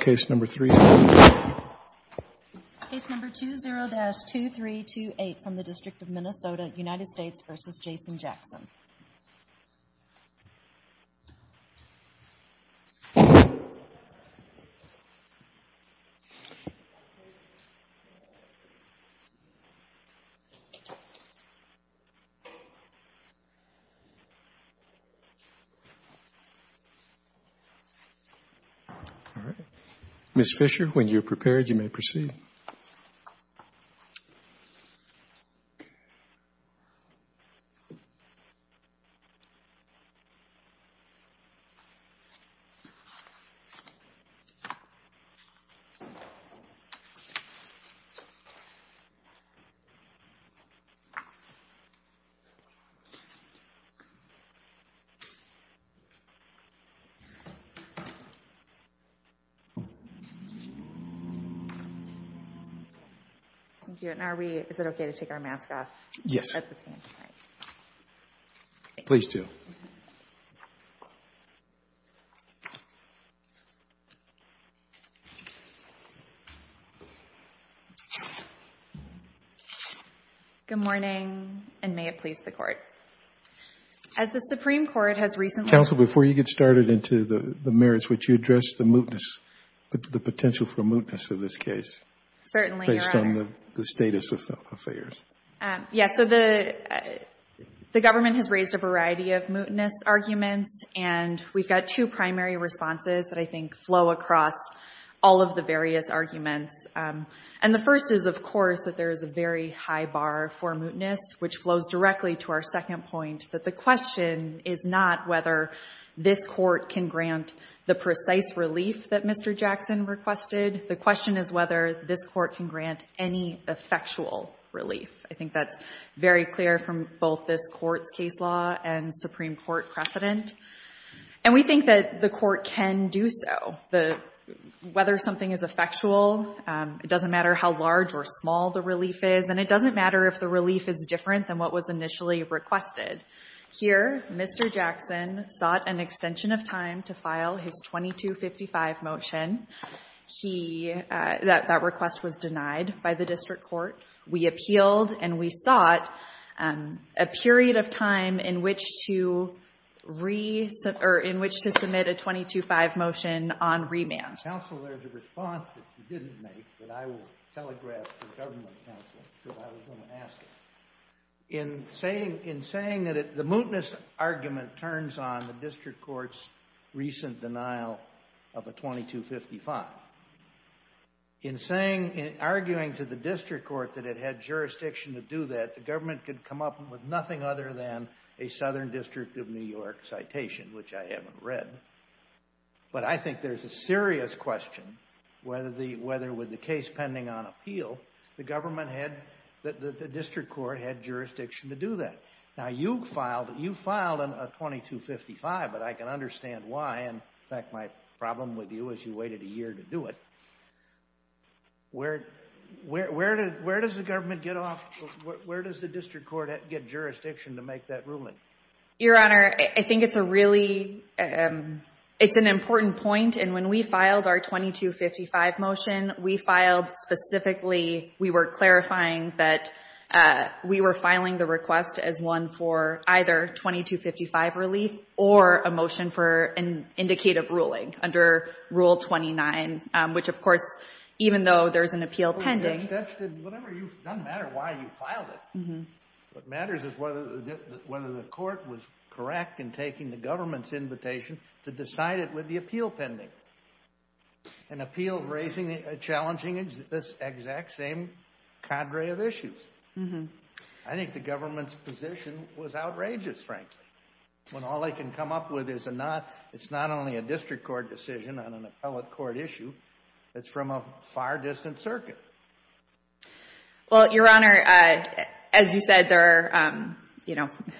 Case number 20-2328 from the District of Minnesota, United States v. Jason Jackson Ms. Fisher, when you are prepared, you may proceed. Thank you, and are we, is it okay to take our mask off? Yes. At the same time. Please do. Thank you. Good morning, and may it please the Court. As the Supreme Court has recently Council, before you get started into the merits, would you address the mootness, the potential for mootness in this case? Certainly, Your Honor. Based on the status of affairs. Yes, so the Government has raised a variety of mootness arguments, and we've got two primary responses that I think flow across all of the various arguments. And the first is, of course, that there is a very high bar for mootness, which flows directly to our second point, that the question is not whether this Court can grant the precise relief that Mr. Jackson requested. The question is whether this Court can grant any effectual relief. I think that's very clear from both this Court's case law and Supreme Court precedent. And we think that the Court can do so. Whether something is effectual, it doesn't matter how large or small the relief is, and it doesn't matter if the relief is different than what was initially requested. Here, Mr. Jackson sought an extension of time to file his 2255 motion. That request was denied by the District Court. We appealed, and we sought a period of time in which to submit a 225 motion on remand. Counsel, there's a response that you didn't make, but I will telegraph to the Government Counsel that I was going to ask it. In saying that the mootness argument turns on the District Court's recent denial of a 2255, in arguing to the District Court that it had jurisdiction to do that, the Government could come up with nothing other than a Southern District of New York citation, which I haven't read. But I think there's a serious question whether, with the case pending on appeal, the District Court had jurisdiction to do that. Now, you filed a 2255, but I can understand why. In fact, my problem with you is you waited a year to do it. Where does the District Court get jurisdiction to make that ruling? Your Honor, I think it's an important point. When we filed our 2255 motion, we filed specifically, we were clarifying that we were filing the request as one for either 2255 relief or a motion for an indicative ruling under Rule 29, which, of course, even though there's an appeal pending. It doesn't matter why you filed it. What matters is whether the Court was correct in taking the Government's invitation to decide it with the appeal pending. An appeal raising, challenging this exact same cadre of issues. I think the Government's position was outrageous, frankly. When all they can come up with is a not, it's not only a District Court decision on an appellate court issue, it's from a far distant circuit. Well, Your Honor, as you said, there are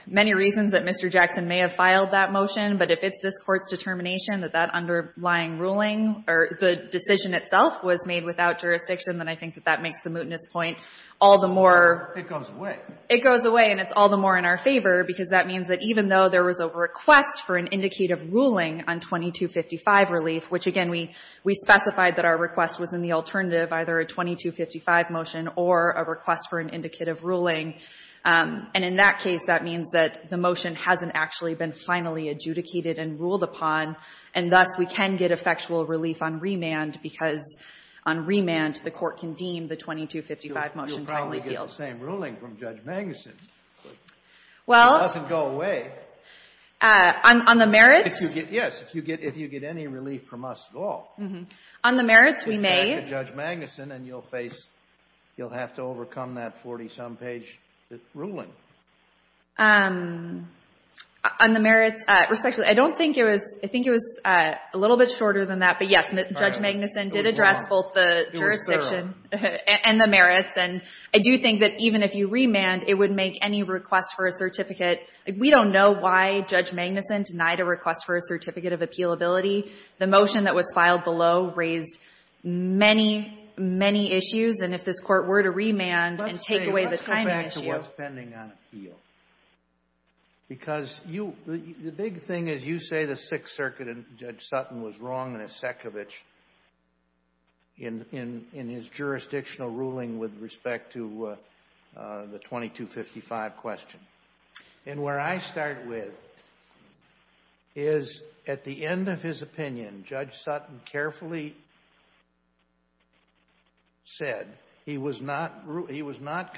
many reasons that Mr. Jackson may have filed that motion, but if it's this Court's determination that that underlying ruling or the decision itself was made without jurisdiction, then I think that that makes the mootness point all the more. It goes away. It goes away, and it's all the more in our favor because that means that even though there was a request for an indicative ruling on 2255 relief, which, again, we specified that our request was in the alternative, either a 2255 motion or a request for an indicative ruling. And in that case, that means that the motion hasn't actually been finally adjudicated and ruled upon, and thus we can get effectual relief on remand because on remand, the Court can deem the 2255 motion timely appeals. You'll probably get the same ruling from Judge Manguson. Well. It doesn't go away. On the merits? Yes. If you get any relief from us at all. On the merits, we may. If you go back to Judge Manguson and you'll face, you'll have to overcome that 40-some page ruling. On the merits, respectfully, I don't think it was, I think it was a little bit shorter than that, but, yes, Judge Manguson did address both the jurisdiction and the merits, and I do think that even if you remand, it would make any request for a certificate. We don't know why Judge Manguson denied a request for a certificate of appealability. The motion that was filed below raised many, many issues, and if this Court were to remand and take away the timing issue. Let's go back to what's pending on appeal. Because you, the big thing is you say the Sixth Circuit and Judge Sutton was wrong in his jurisdictional ruling with respect to the 2255 question. And where I start with is at the end of his opinion, Judge Sutton carefully said he was not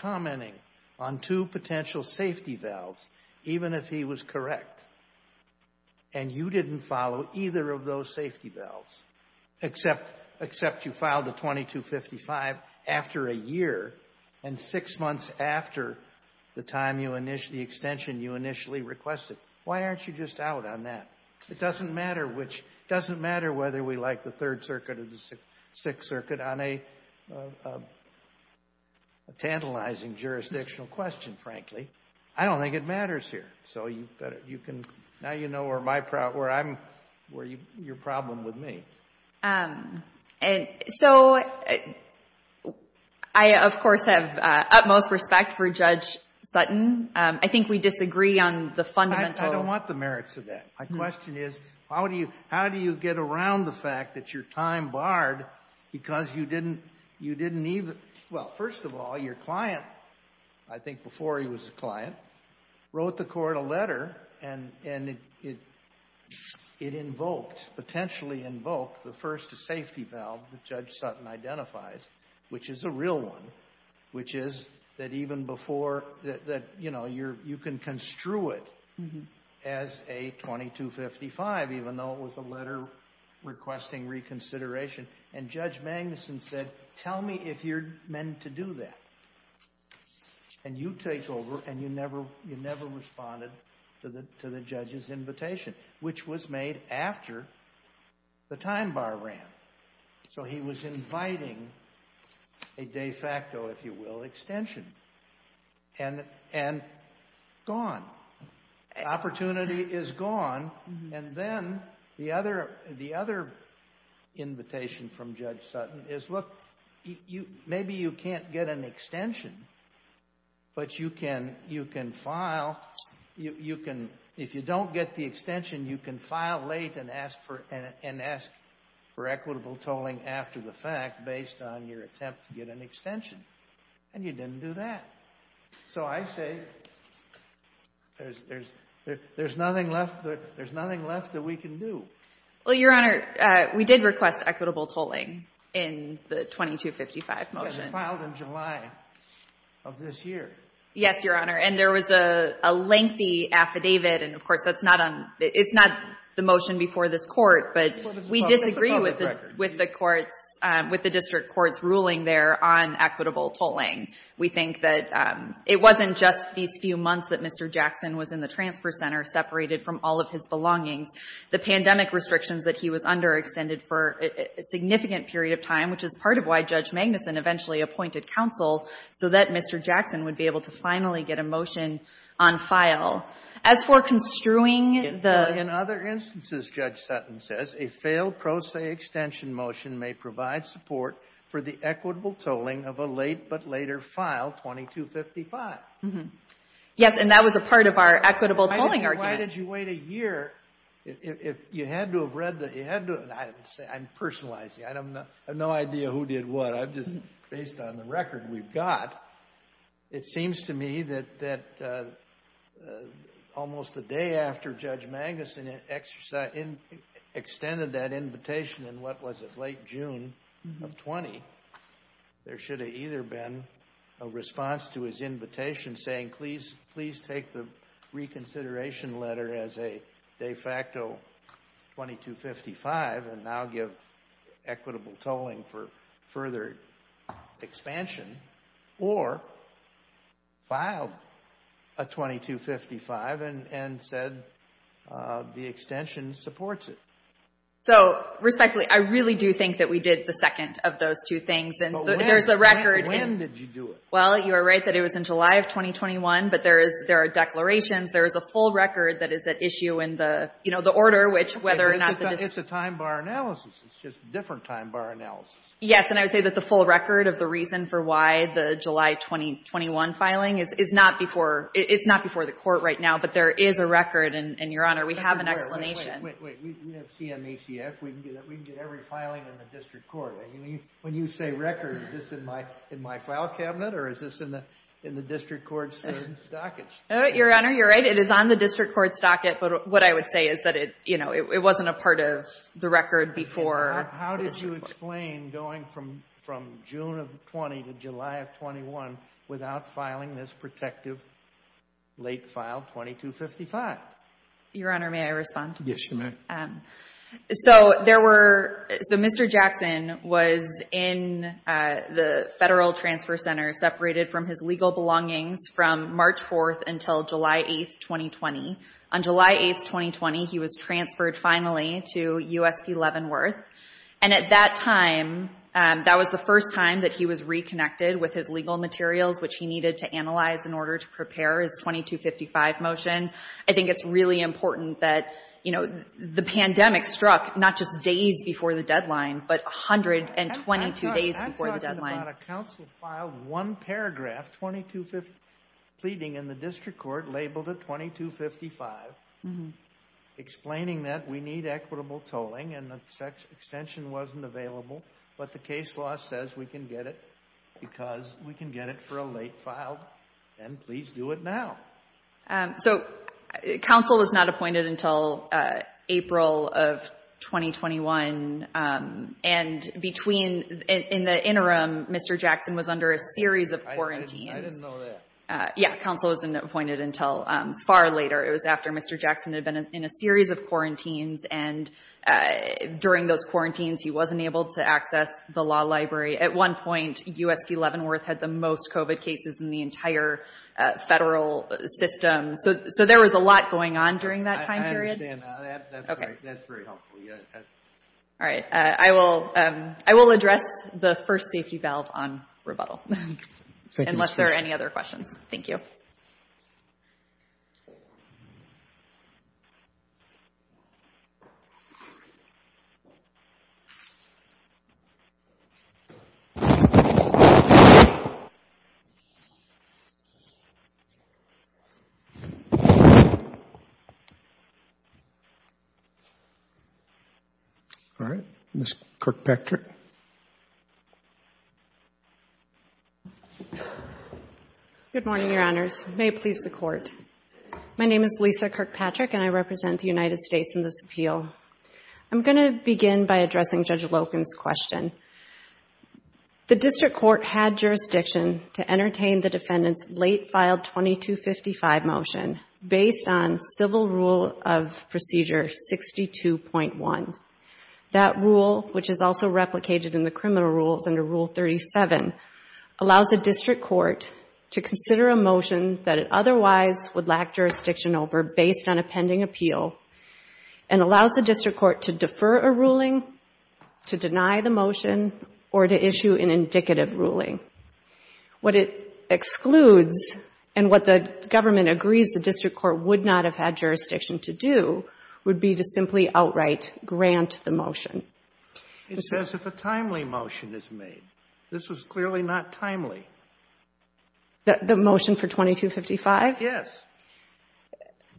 commenting on two potential safety valves, even if he was correct, and you didn't follow either of those safety valves, except you filed the 2255 after a year and six months after the time, the extension you initially requested. Why aren't you just out on that? It doesn't matter whether we like the Third Circuit or the Sixth Circuit on a tantalizing jurisdictional question, frankly. I don't think it matters here. So now you know where your problem with me. So I, of course, have utmost respect for Judge Sutton. I think we disagree on the fundamental. I don't want the merits of that. My question is how do you get around the fact that your time barred because you didn't even, well, first of all, your client, I think before he was a client, wrote the court a letter and it invoked, potentially invoked the first safety valve that Judge Sutton identifies, which is a real one, which is that even before, you can construe it as a 2255, even though it was a letter requesting reconsideration. And Judge Magnuson said, tell me if you're meant to do that. And you take over and you never responded to the judge's invitation, which was made after the time bar ran. So he was inviting a de facto, if you will, extension. And gone. Opportunity is gone. And then the other invitation from Judge Sutton is, look, maybe you can't get an extension, but you can file, you can, if you don't get the extension, you can file late and ask for equitable tolling after the fact based on your attempt to get an extension. And you didn't do that. So I say there's nothing left that we can do. Well, Your Honor, we did request equitable tolling in the 2255 motion. It was filed in July of this year. Yes, Your Honor. And there was a lengthy affidavit. And, of course, that's not on, it's not the motion before this court, but we disagree with the courts, with the district court's ruling there on equitable tolling. We think that it wasn't just these few months that Mr. Jackson was in the transfer center separated from all of his belongings. The pandemic restrictions that he was under extended for a significant period of time, which is part of why Judge Magnuson eventually appointed counsel, so that Mr. Jackson would be able to finally get a motion on file. As for construing the — In other instances, Judge Sutton says, a failed pro se extension motion may provide support for the equitable tolling of a late but later file, 2255. Yes, and that was a part of our equitable tolling argument. Why did you wait a year? You had to have read the — I'm personalizing. I have no idea who did what. I'm just, based on the record we've got, it seems to me that almost the day after Judge Magnuson extended that invitation in, what was it, late June of 20, there should have either been a response to his invitation saying, please take the reconsideration letter as a de facto 2255 and now give equitable tolling for further expansion, or filed a 2255 and said the extension supports it. Respectfully, I really do think that we did the second of those two things. When did you do it? Well, you are right that it was in July of 2021, but there are declarations. There is a full record that is at issue in the order, which whether or not the — It's a time bar analysis. It's just a different time bar analysis. Yes, and I would say that the full record of the reason for why the July 2021 filing is not before — it's not before the court right now, but there is a record, and, Your Honor, we have an explanation. Wait, wait, wait. We have CMACF. We can get every filing in the district court. When you say record, is this in my file cabinet, or is this in the district court's docket? Your Honor, you're right. It is on the district court's docket, but what I would say is that it, you know, it wasn't a part of the record before. How did you explain going from June of 20 to July of 21 without filing this protective late file 2255? Your Honor, may I respond? Yes, you may. So there were — so Mr. Jackson was in the Federal Transfer Center, separated from his legal belongings from March 4th until July 8th, 2020. On July 8th, 2020, he was transferred finally to U.S.P. Leavenworth, and at that time, that was the first time that he was reconnected with his legal materials, which he needed to analyze in order to prepare his 2255 motion. I think it's really important that, you know, the pandemic struck not just days before the deadline, but 122 days before the deadline. I'm talking about a counsel filed one paragraph, 2255, pleading in the district court labeled it 2255, explaining that we need equitable tolling, and the extension wasn't available, but the case law says we can get it because we can get it for a late file, and please do it now. So counsel was not appointed until April of 2021, and between — in the interim, Mr. Jackson was under a series of quarantines. I didn't know that. Yeah, counsel wasn't appointed until far later. It was after Mr. Jackson had been in a series of quarantines, and during those quarantines, he wasn't able to access the law library. At one point, U.S.P. Leavenworth had the most COVID cases in the entire federal system. So there was a lot going on during that time period. I understand. That's very helpful. All right. I will address the first safety valve on rebuttal, unless there are any other questions. Thank you. All right. Ms. Kirkpatrick. Good morning, Your Honors. May it please the Court. My name is Lisa Kirkpatrick, and I represent the United States in this appeal. I'm going to begin by addressing Judge Loken's question. late-filed 2255 motion based on Civil Rule of Procedure 62.1. That rule, which is also replicated in the criminal rules under Rule 37, allows a district court to consider a motion that it otherwise would lack jurisdiction over based on a pending appeal and allows the district court to defer a ruling, to deny the motion, or to issue an indicative ruling. What it excludes and what the government agrees the district court would not have had jurisdiction to do would be to simply outright grant the motion. It says if a timely motion is made. This was clearly not timely. The motion for 2255? Yes.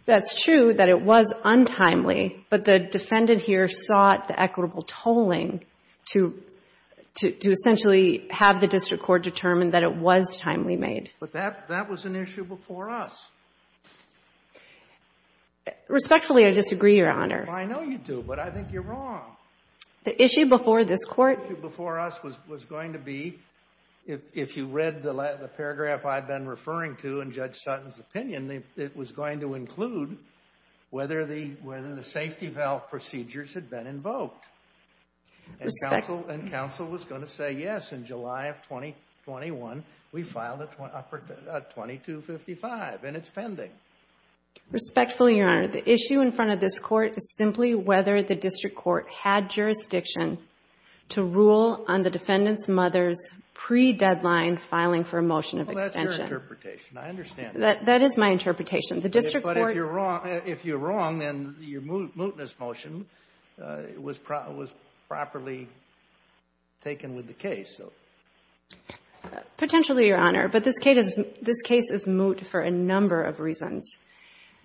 That's true that it was untimely, but the defendant here sought the equitable tolling to essentially have the district court determine that it was timely made. But that was an issue before us. Respectfully, I disagree, Your Honor. I know you do, but I think you're wrong. The issue before this Court? The issue before us was going to be, if you read the paragraph I've been referring to in Judge Sutton's opinion, it was going to include whether the safety valve procedures had been invoked. And counsel was going to say, yes, in July of 2021, we filed a 2255, and it's pending. Respectfully, Your Honor, the issue in front of this Court is simply whether the district court had jurisdiction to rule on the defendant's mother's pre-deadline filing for a motion of extension. Well, that's your interpretation. I understand that. That is my interpretation. The district court... was properly taken with the case. Potentially, Your Honor. But this case is moot for a number of reasons.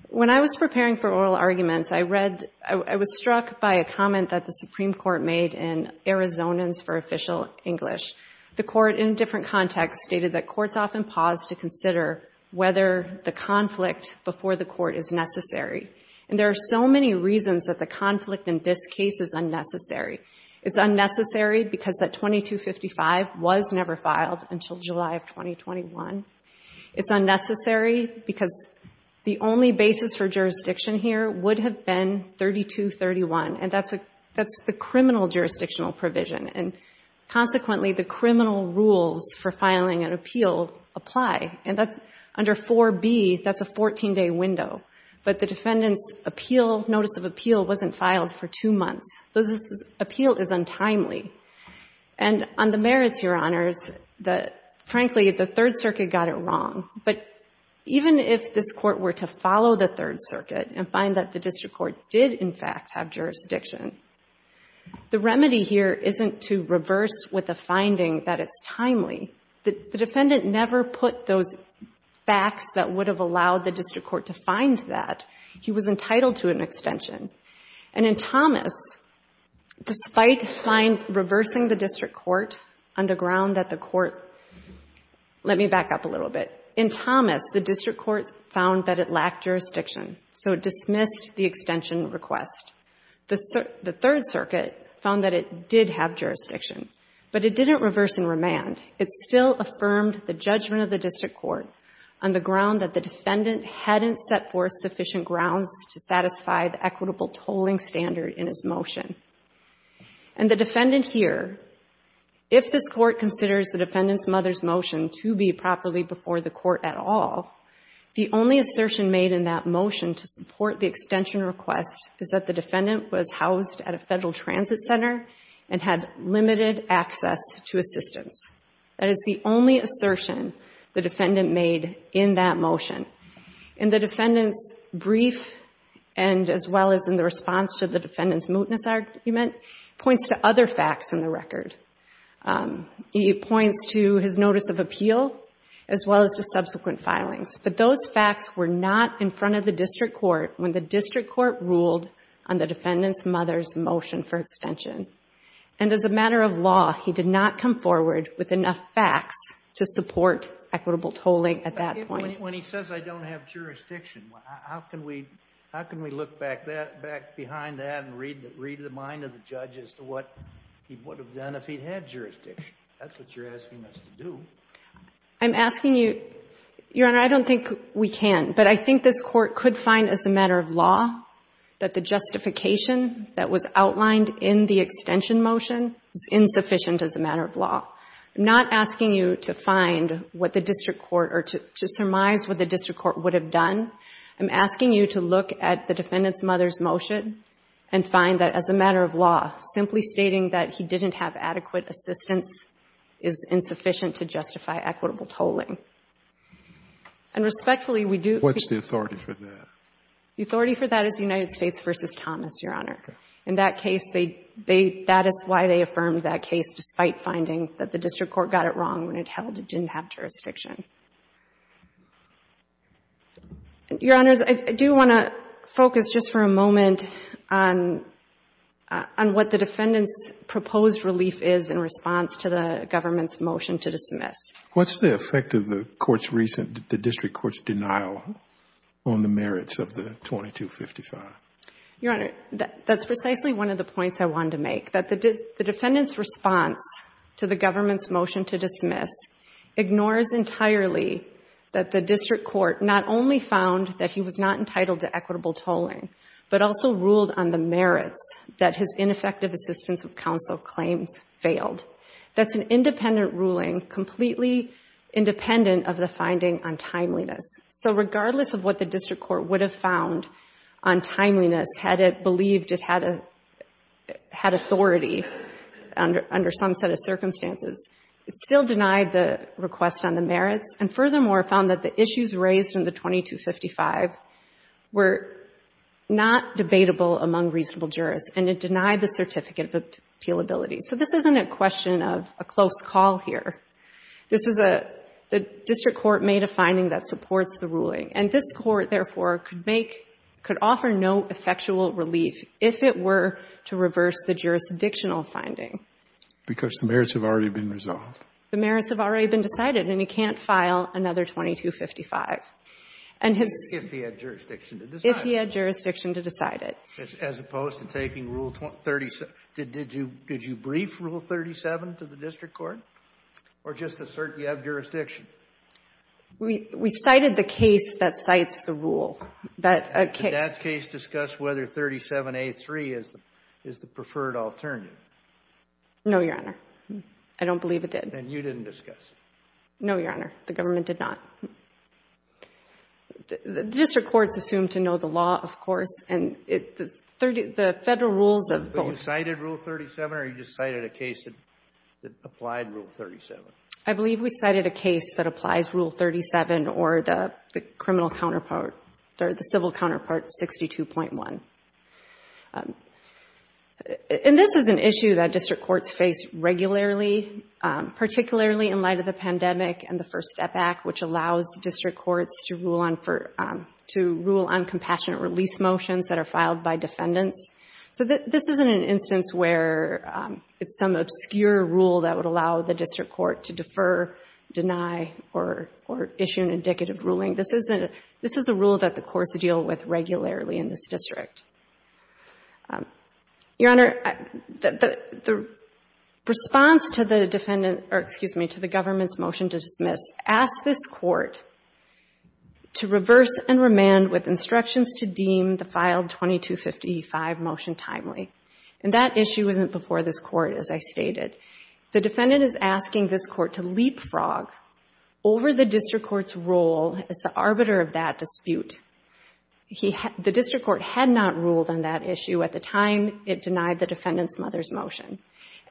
When I was preparing for oral arguments, I was struck by a comment that the Supreme Court made in Arizonans for Official English. The Court, in different contexts, stated that courts often pause to consider whether the conflict before the court is necessary. And there are so many reasons that the conflict in this case is unnecessary. It's unnecessary because that 2255 was never filed until July of 2021. It's unnecessary because the only basis for jurisdiction here would have been 3231. And that's the criminal jurisdictional provision. And consequently, the criminal rules for filing an appeal apply. And under 4B, that's a 14-day window. But the defendant's appeal, notice of appeal, wasn't filed for two months. This appeal is untimely. And on the merits, Your Honors, frankly, the Third Circuit got it wrong. But even if this Court were to follow the Third Circuit and find that the district court did, in fact, have jurisdiction, the remedy here isn't to reverse with a finding that it's timely. The defendant never put those facts that would have allowed the district court to find that. He was entitled to an extension. And in Thomas, despite reversing the district court on the ground that the court — let me back up a little bit. In Thomas, the district court found that it lacked jurisdiction, so it dismissed the extension request. The Third Circuit found that it did have jurisdiction, but it didn't reverse and remand. It still affirmed the judgment of the district court on the ground that the defendant hadn't set forth sufficient grounds to satisfy the equitable tolling standard in his motion. And the defendant here, if this Court considers the defendant's mother's motion to be properly before the Court at all, the only assertion made in that motion to support the extension request is that the defendant was housed at a federal transit center and had limited access to assistance. That is the only assertion the defendant made in that motion. In the defendant's brief and as well as in the response to the defendant's mootness argument, it points to other facts in the record. It points to his notice of appeal as well as to subsequent filings. But those facts were not in front of the district court when the district court ruled on the defendant's mother's motion for extension. And as a matter of law, he did not come forward with enough facts to support equitable tolling at that point. When he says I don't have jurisdiction, how can we look back behind that and read the mind of the judge as to what he would have done if he had jurisdiction? That's what you're asking us to do. I'm asking you, Your Honor, I don't think we can. But I think this Court could find as a matter of law that the justification that was outlined in the extension motion is insufficient as a matter of law. I'm not asking you to find what the district court or to surmise what the district court would have done. I'm asking you to look at the defendant's mother's motion and find that as a matter of law, simply stating that he didn't have adequate assistance is insufficient to justify equitable tolling. And respectfully, we do... What's the authority for that? The authority for that is United States v. Thomas, Your Honor. In that case, that is why they affirmed that case despite finding that the district court got it wrong when it held it didn't have jurisdiction. Your Honors, I do want to focus just for a moment on what the defendant's proposed relief is in response to the government's motion to dismiss. What's the effect of the district court's denial on the merits of the 2255? Your Honor, that's precisely one of the points I wanted to make, that the defendant's response to the government's motion to dismiss ignores entirely that the district court not only found that he was not entitled to equitable tolling, but also ruled on the merits that his ineffective assistance of counsel claims failed. That's an independent ruling, completely independent of the finding on timeliness. So regardless of what the district court would have found on timeliness, had it believed it had authority under some set of circumstances, it still denied the request on the merits and furthermore found that the issues raised in the 2255 were not debatable among reasonable jurists and it denied the certificate of appealability. So this isn't a question of a close call here. This is a, the district court made a finding that supports the ruling and this court therefore could make, could offer no effectual relief if it were to reverse the jurisdictional finding. Because the merits have already been resolved. The merits have already been decided and he can't file another 2255. If he had jurisdiction to decide it. If he had jurisdiction to decide it. As opposed to taking Rule 37. Did you brief Rule 37 to the district court? Or just assert you have jurisdiction? We cited the case that cites the rule. Did that case discuss whether 37A3 is the preferred alternative? No, Your Honor. I don't believe it did. And you didn't discuss it? No, Your Honor. The government did not. The district courts assumed to know the law, of course, and the Federal rules of both. You cited Rule 37 or you just cited a case that applied Rule 37? I believe we cited a case that applies Rule 37 or the criminal counterpart, or the civil counterpart, 62.1. And this is an issue that district courts face regularly, particularly in light of the pandemic and the First Step Act, which allows district courts to rule on compassionate release motions that are filed by defendants. So this isn't an instance where it's some obscure rule that would allow the district court to defer, deny, or issue an indicative ruling. This is a rule that the courts deal with regularly in this district. Your Honor, the response to the defendant or, excuse me, to the government's motion to dismiss asked this court to reverse and remand with instructions to deem the filed 2255 motion timely. And that issue isn't before this court, as I stated. The defendant is asking this court to leapfrog over the district court's role as the arbiter of that dispute. The district court had not ruled on that issue at the time it denied the defendant's mother's motion.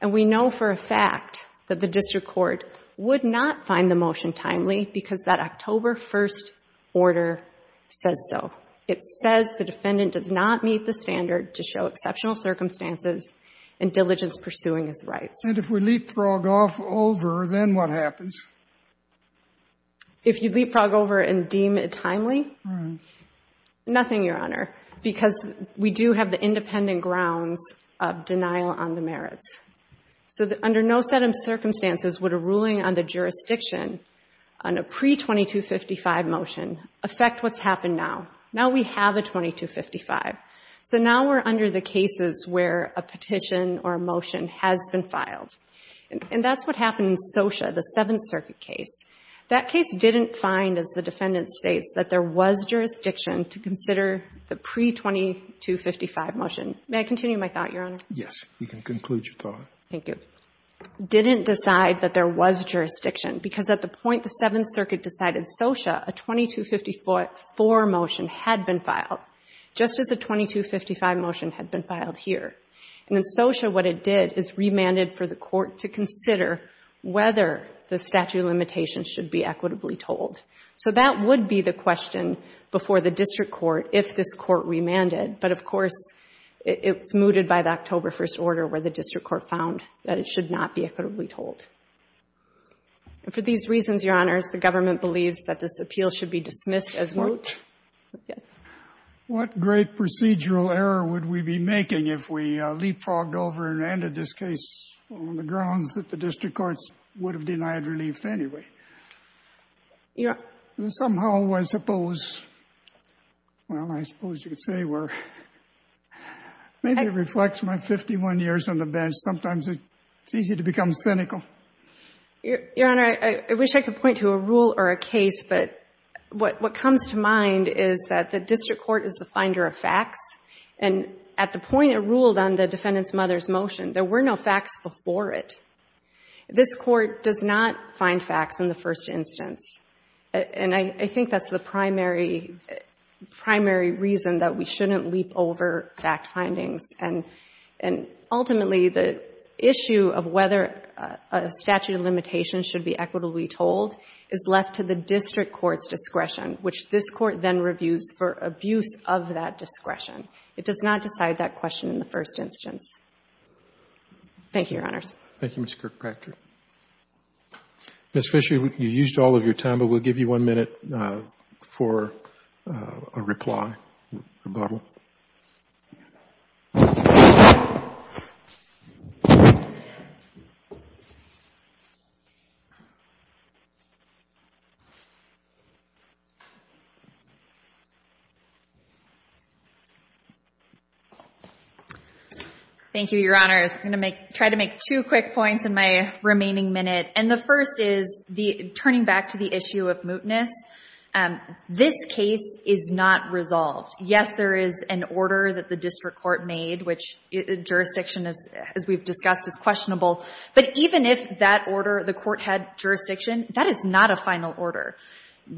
And we know for a fact that the district court would not find the motion timely because that October 1st order says so. It says the defendant does not meet the standard to show exceptional circumstances and diligence pursuing his rights. And if we leapfrog off over, then what happens? If you leapfrog over and deem it timely? Nothing, Your Honor, because we do have the independent grounds of denial on the merits. So under no set of circumstances would a ruling on the jurisdiction on a pre-2255 motion affect what's happened now. Now we have a 2255. So now we're under the cases where a petition or a motion has been filed. And that's what happened in Socia, the Seventh Circuit case. That case didn't find, as the defendant states, that there was jurisdiction to consider the pre-2255 motion. May I continue my thought, Your Honor? Yes. You can conclude your thought. Thank you. Didn't decide that there was jurisdiction because at the point the Seventh Circuit decided Socia, a 2254 motion had been filed, just as a 2255 motion had been filed here. And in Socia, what it did is remanded for the court to consider whether the statute of limitations should be equitably told. So that would be the question before the district court if this court remanded. But of course, it's mooted by the October 1st order where the district court found that it should not be equitably told. And for these reasons, Your Honors, the government believes that this appeal should be dismissed as moot. What great procedural error would we be making if we leapfrogged over and randed this case on the grounds that the district courts would have denied relief anyway? Yeah. Somehow I suppose, well, I suppose you could say we're, maybe it reflects my 51 years on the bench. Sometimes it's easy to become cynical. Your Honor, I wish I could point to a rule or a case, but what comes to mind is that the district court is the finder of facts. And at the point it ruled on the defendant's mother's motion, there were no facts before it. This court does not find facts in the first instance. And I think that's the primary, primary reason that we shouldn't leap over fact findings. And ultimately, the issue of whether a statute of limitations should be equitably told is left to the district court's discretion, which this court then reviews for abuse of that discretion. It does not decide that question in the first instance. Thank you, Your Honors. Thank you, Mr. Kirkpatrick. Ms. Fisher, you used all of your time, but we'll give you one minute for a reply, rebuttal. Thank you, Your Honors. I'm going to try to make two quick points in my remaining minute. And the first is turning back to the issue of mootness. This case is not resolved. Yes, there is an order that the district court made, which jurisdiction, as we've discussed, is questionable. But even if that order, the court had jurisdiction, that is not a final order.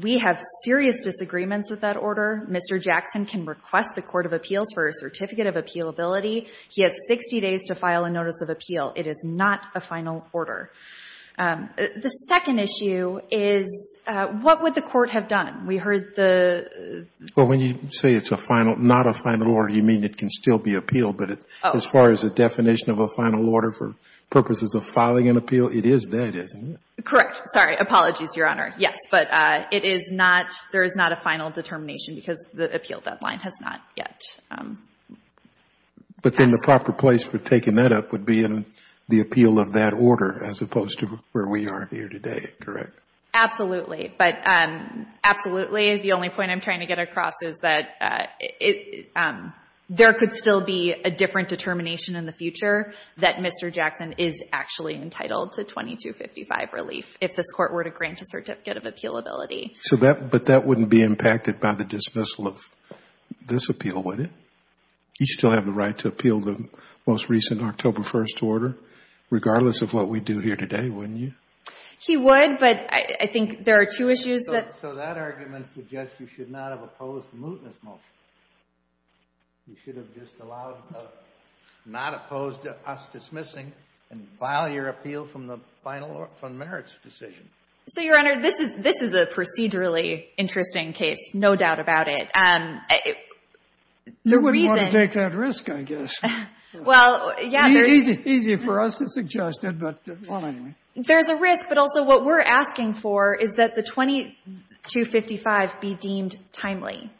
We have serious disagreements with that order. Mr. Jackson can request the court of appeals for a certificate of appealability. He has 60 days to file a notice of appeal. It is not a final order. The second issue is what would the court have done? We heard the ---- Well, when you say it's a final, not a final order, you mean it can still be appealed. Oh. But as far as the definition of a final order for purposes of filing an appeal, it is that, isn't it? Correct. Sorry. Apologies, Your Honor. Yes. But it is not, there is not a final determination because the appeal deadline has not yet. But then the proper place for taking that up would be in the appeal of that order as opposed to where we are here today, correct? Absolutely. But absolutely, the only point I'm trying to get across is that there could still be a different determination in the future that Mr. Jackson is actually entitled to 2255 relief if this court were to grant a certificate of appealability. So that, but that wouldn't be impacted by the dismissal of this appeal, would it? He'd still have the right to appeal the most recent October 1st order, regardless of what we do here today, wouldn't you? He would, but I think there are two issues that ---- So that argument suggests you should not have opposed the mootness motion. You should have just allowed, not opposed to us dismissing and file your appeal from the final merits decision. So, Your Honor, this is a procedurally interesting case, no doubt about it. The reason ---- You wouldn't want to take that risk, I guess. Well, yeah, there's ---- Easy for us to suggest it, but well, anyway. There's a risk, but also what we're asking for is that the 2255 be deemed timely.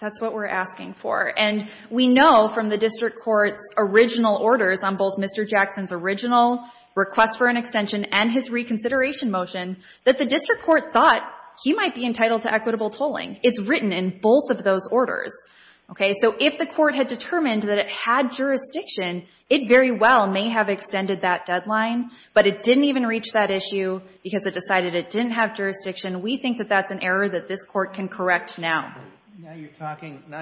That's what we're asking for. And we know from the district court's original orders on both Mr. Jackson's original request for an extension and his reconsideration motion, that the district court thought he might be entitled to equitable tolling. It's written in both of those orders. So if the court had determined that it had jurisdiction, it very well may have extended that deadline, but it didn't even reach that issue because it decided it didn't have jurisdiction. We think that that's an error that this court can correct now. Now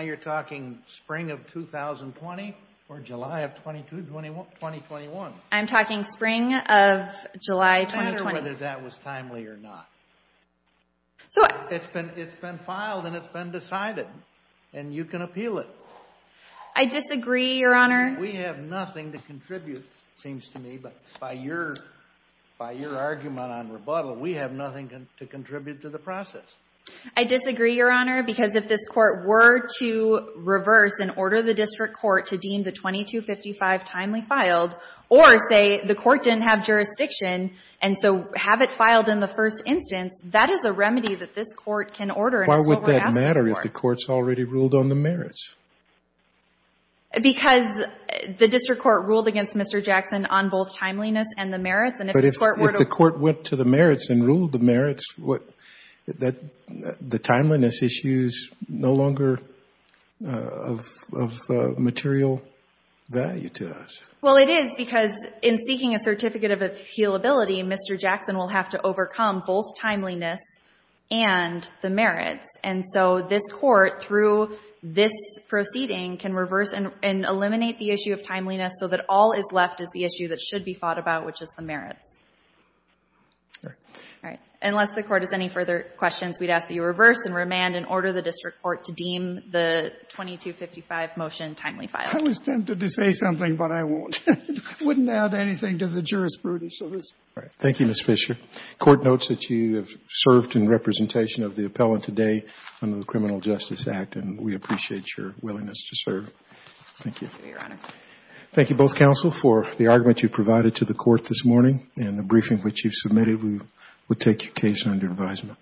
you're talking spring of 2020 or July of 2021? I'm talking spring of July 2020. I wonder whether that was timely or not. It's been filed and it's been decided, and you can appeal it. I disagree, Your Honor. We have nothing to contribute, it seems to me, but by your argument on rebuttal, we have nothing to contribute to the process. I disagree, Your Honor, because if this court were to reverse and order the district court to deem the 2255 timely filed, or say the court didn't have jurisdiction and so have it filed in the first instance, that is a remedy that this court can order and it's what we're asking for. Why would that matter if the court's already ruled on the merits? Because the district court ruled against Mr. Jackson on both timeliness and the merits. But if the court went to the merits and ruled the merits, the timeliness issue is no longer of material value to us. Well, it is because in seeking a certificate of appealability, Mr. Jackson will have to overcome both timeliness and the merits. And so this court, through this proceeding, can reverse and eliminate the issue of timeliness so that all is left is the issue that should be fought about, which is the merits. All right. Unless the Court has any further questions, we'd ask that you reverse and remand and order the district court to deem the 2255 motion timely filed. I was tempted to say something, but I won't. I wouldn't add anything to the jurisprudence of this. Thank you, Ms. Fisher. The Court notes that you have served in representation of the appellant today under the Criminal Justice Act, and we appreciate your willingness to serve. Thank you. Thank you, Your Honor. Thank you, both counsel, for the argument you provided to the Court this morning and the briefing which you submitted. We will take your case under advisement.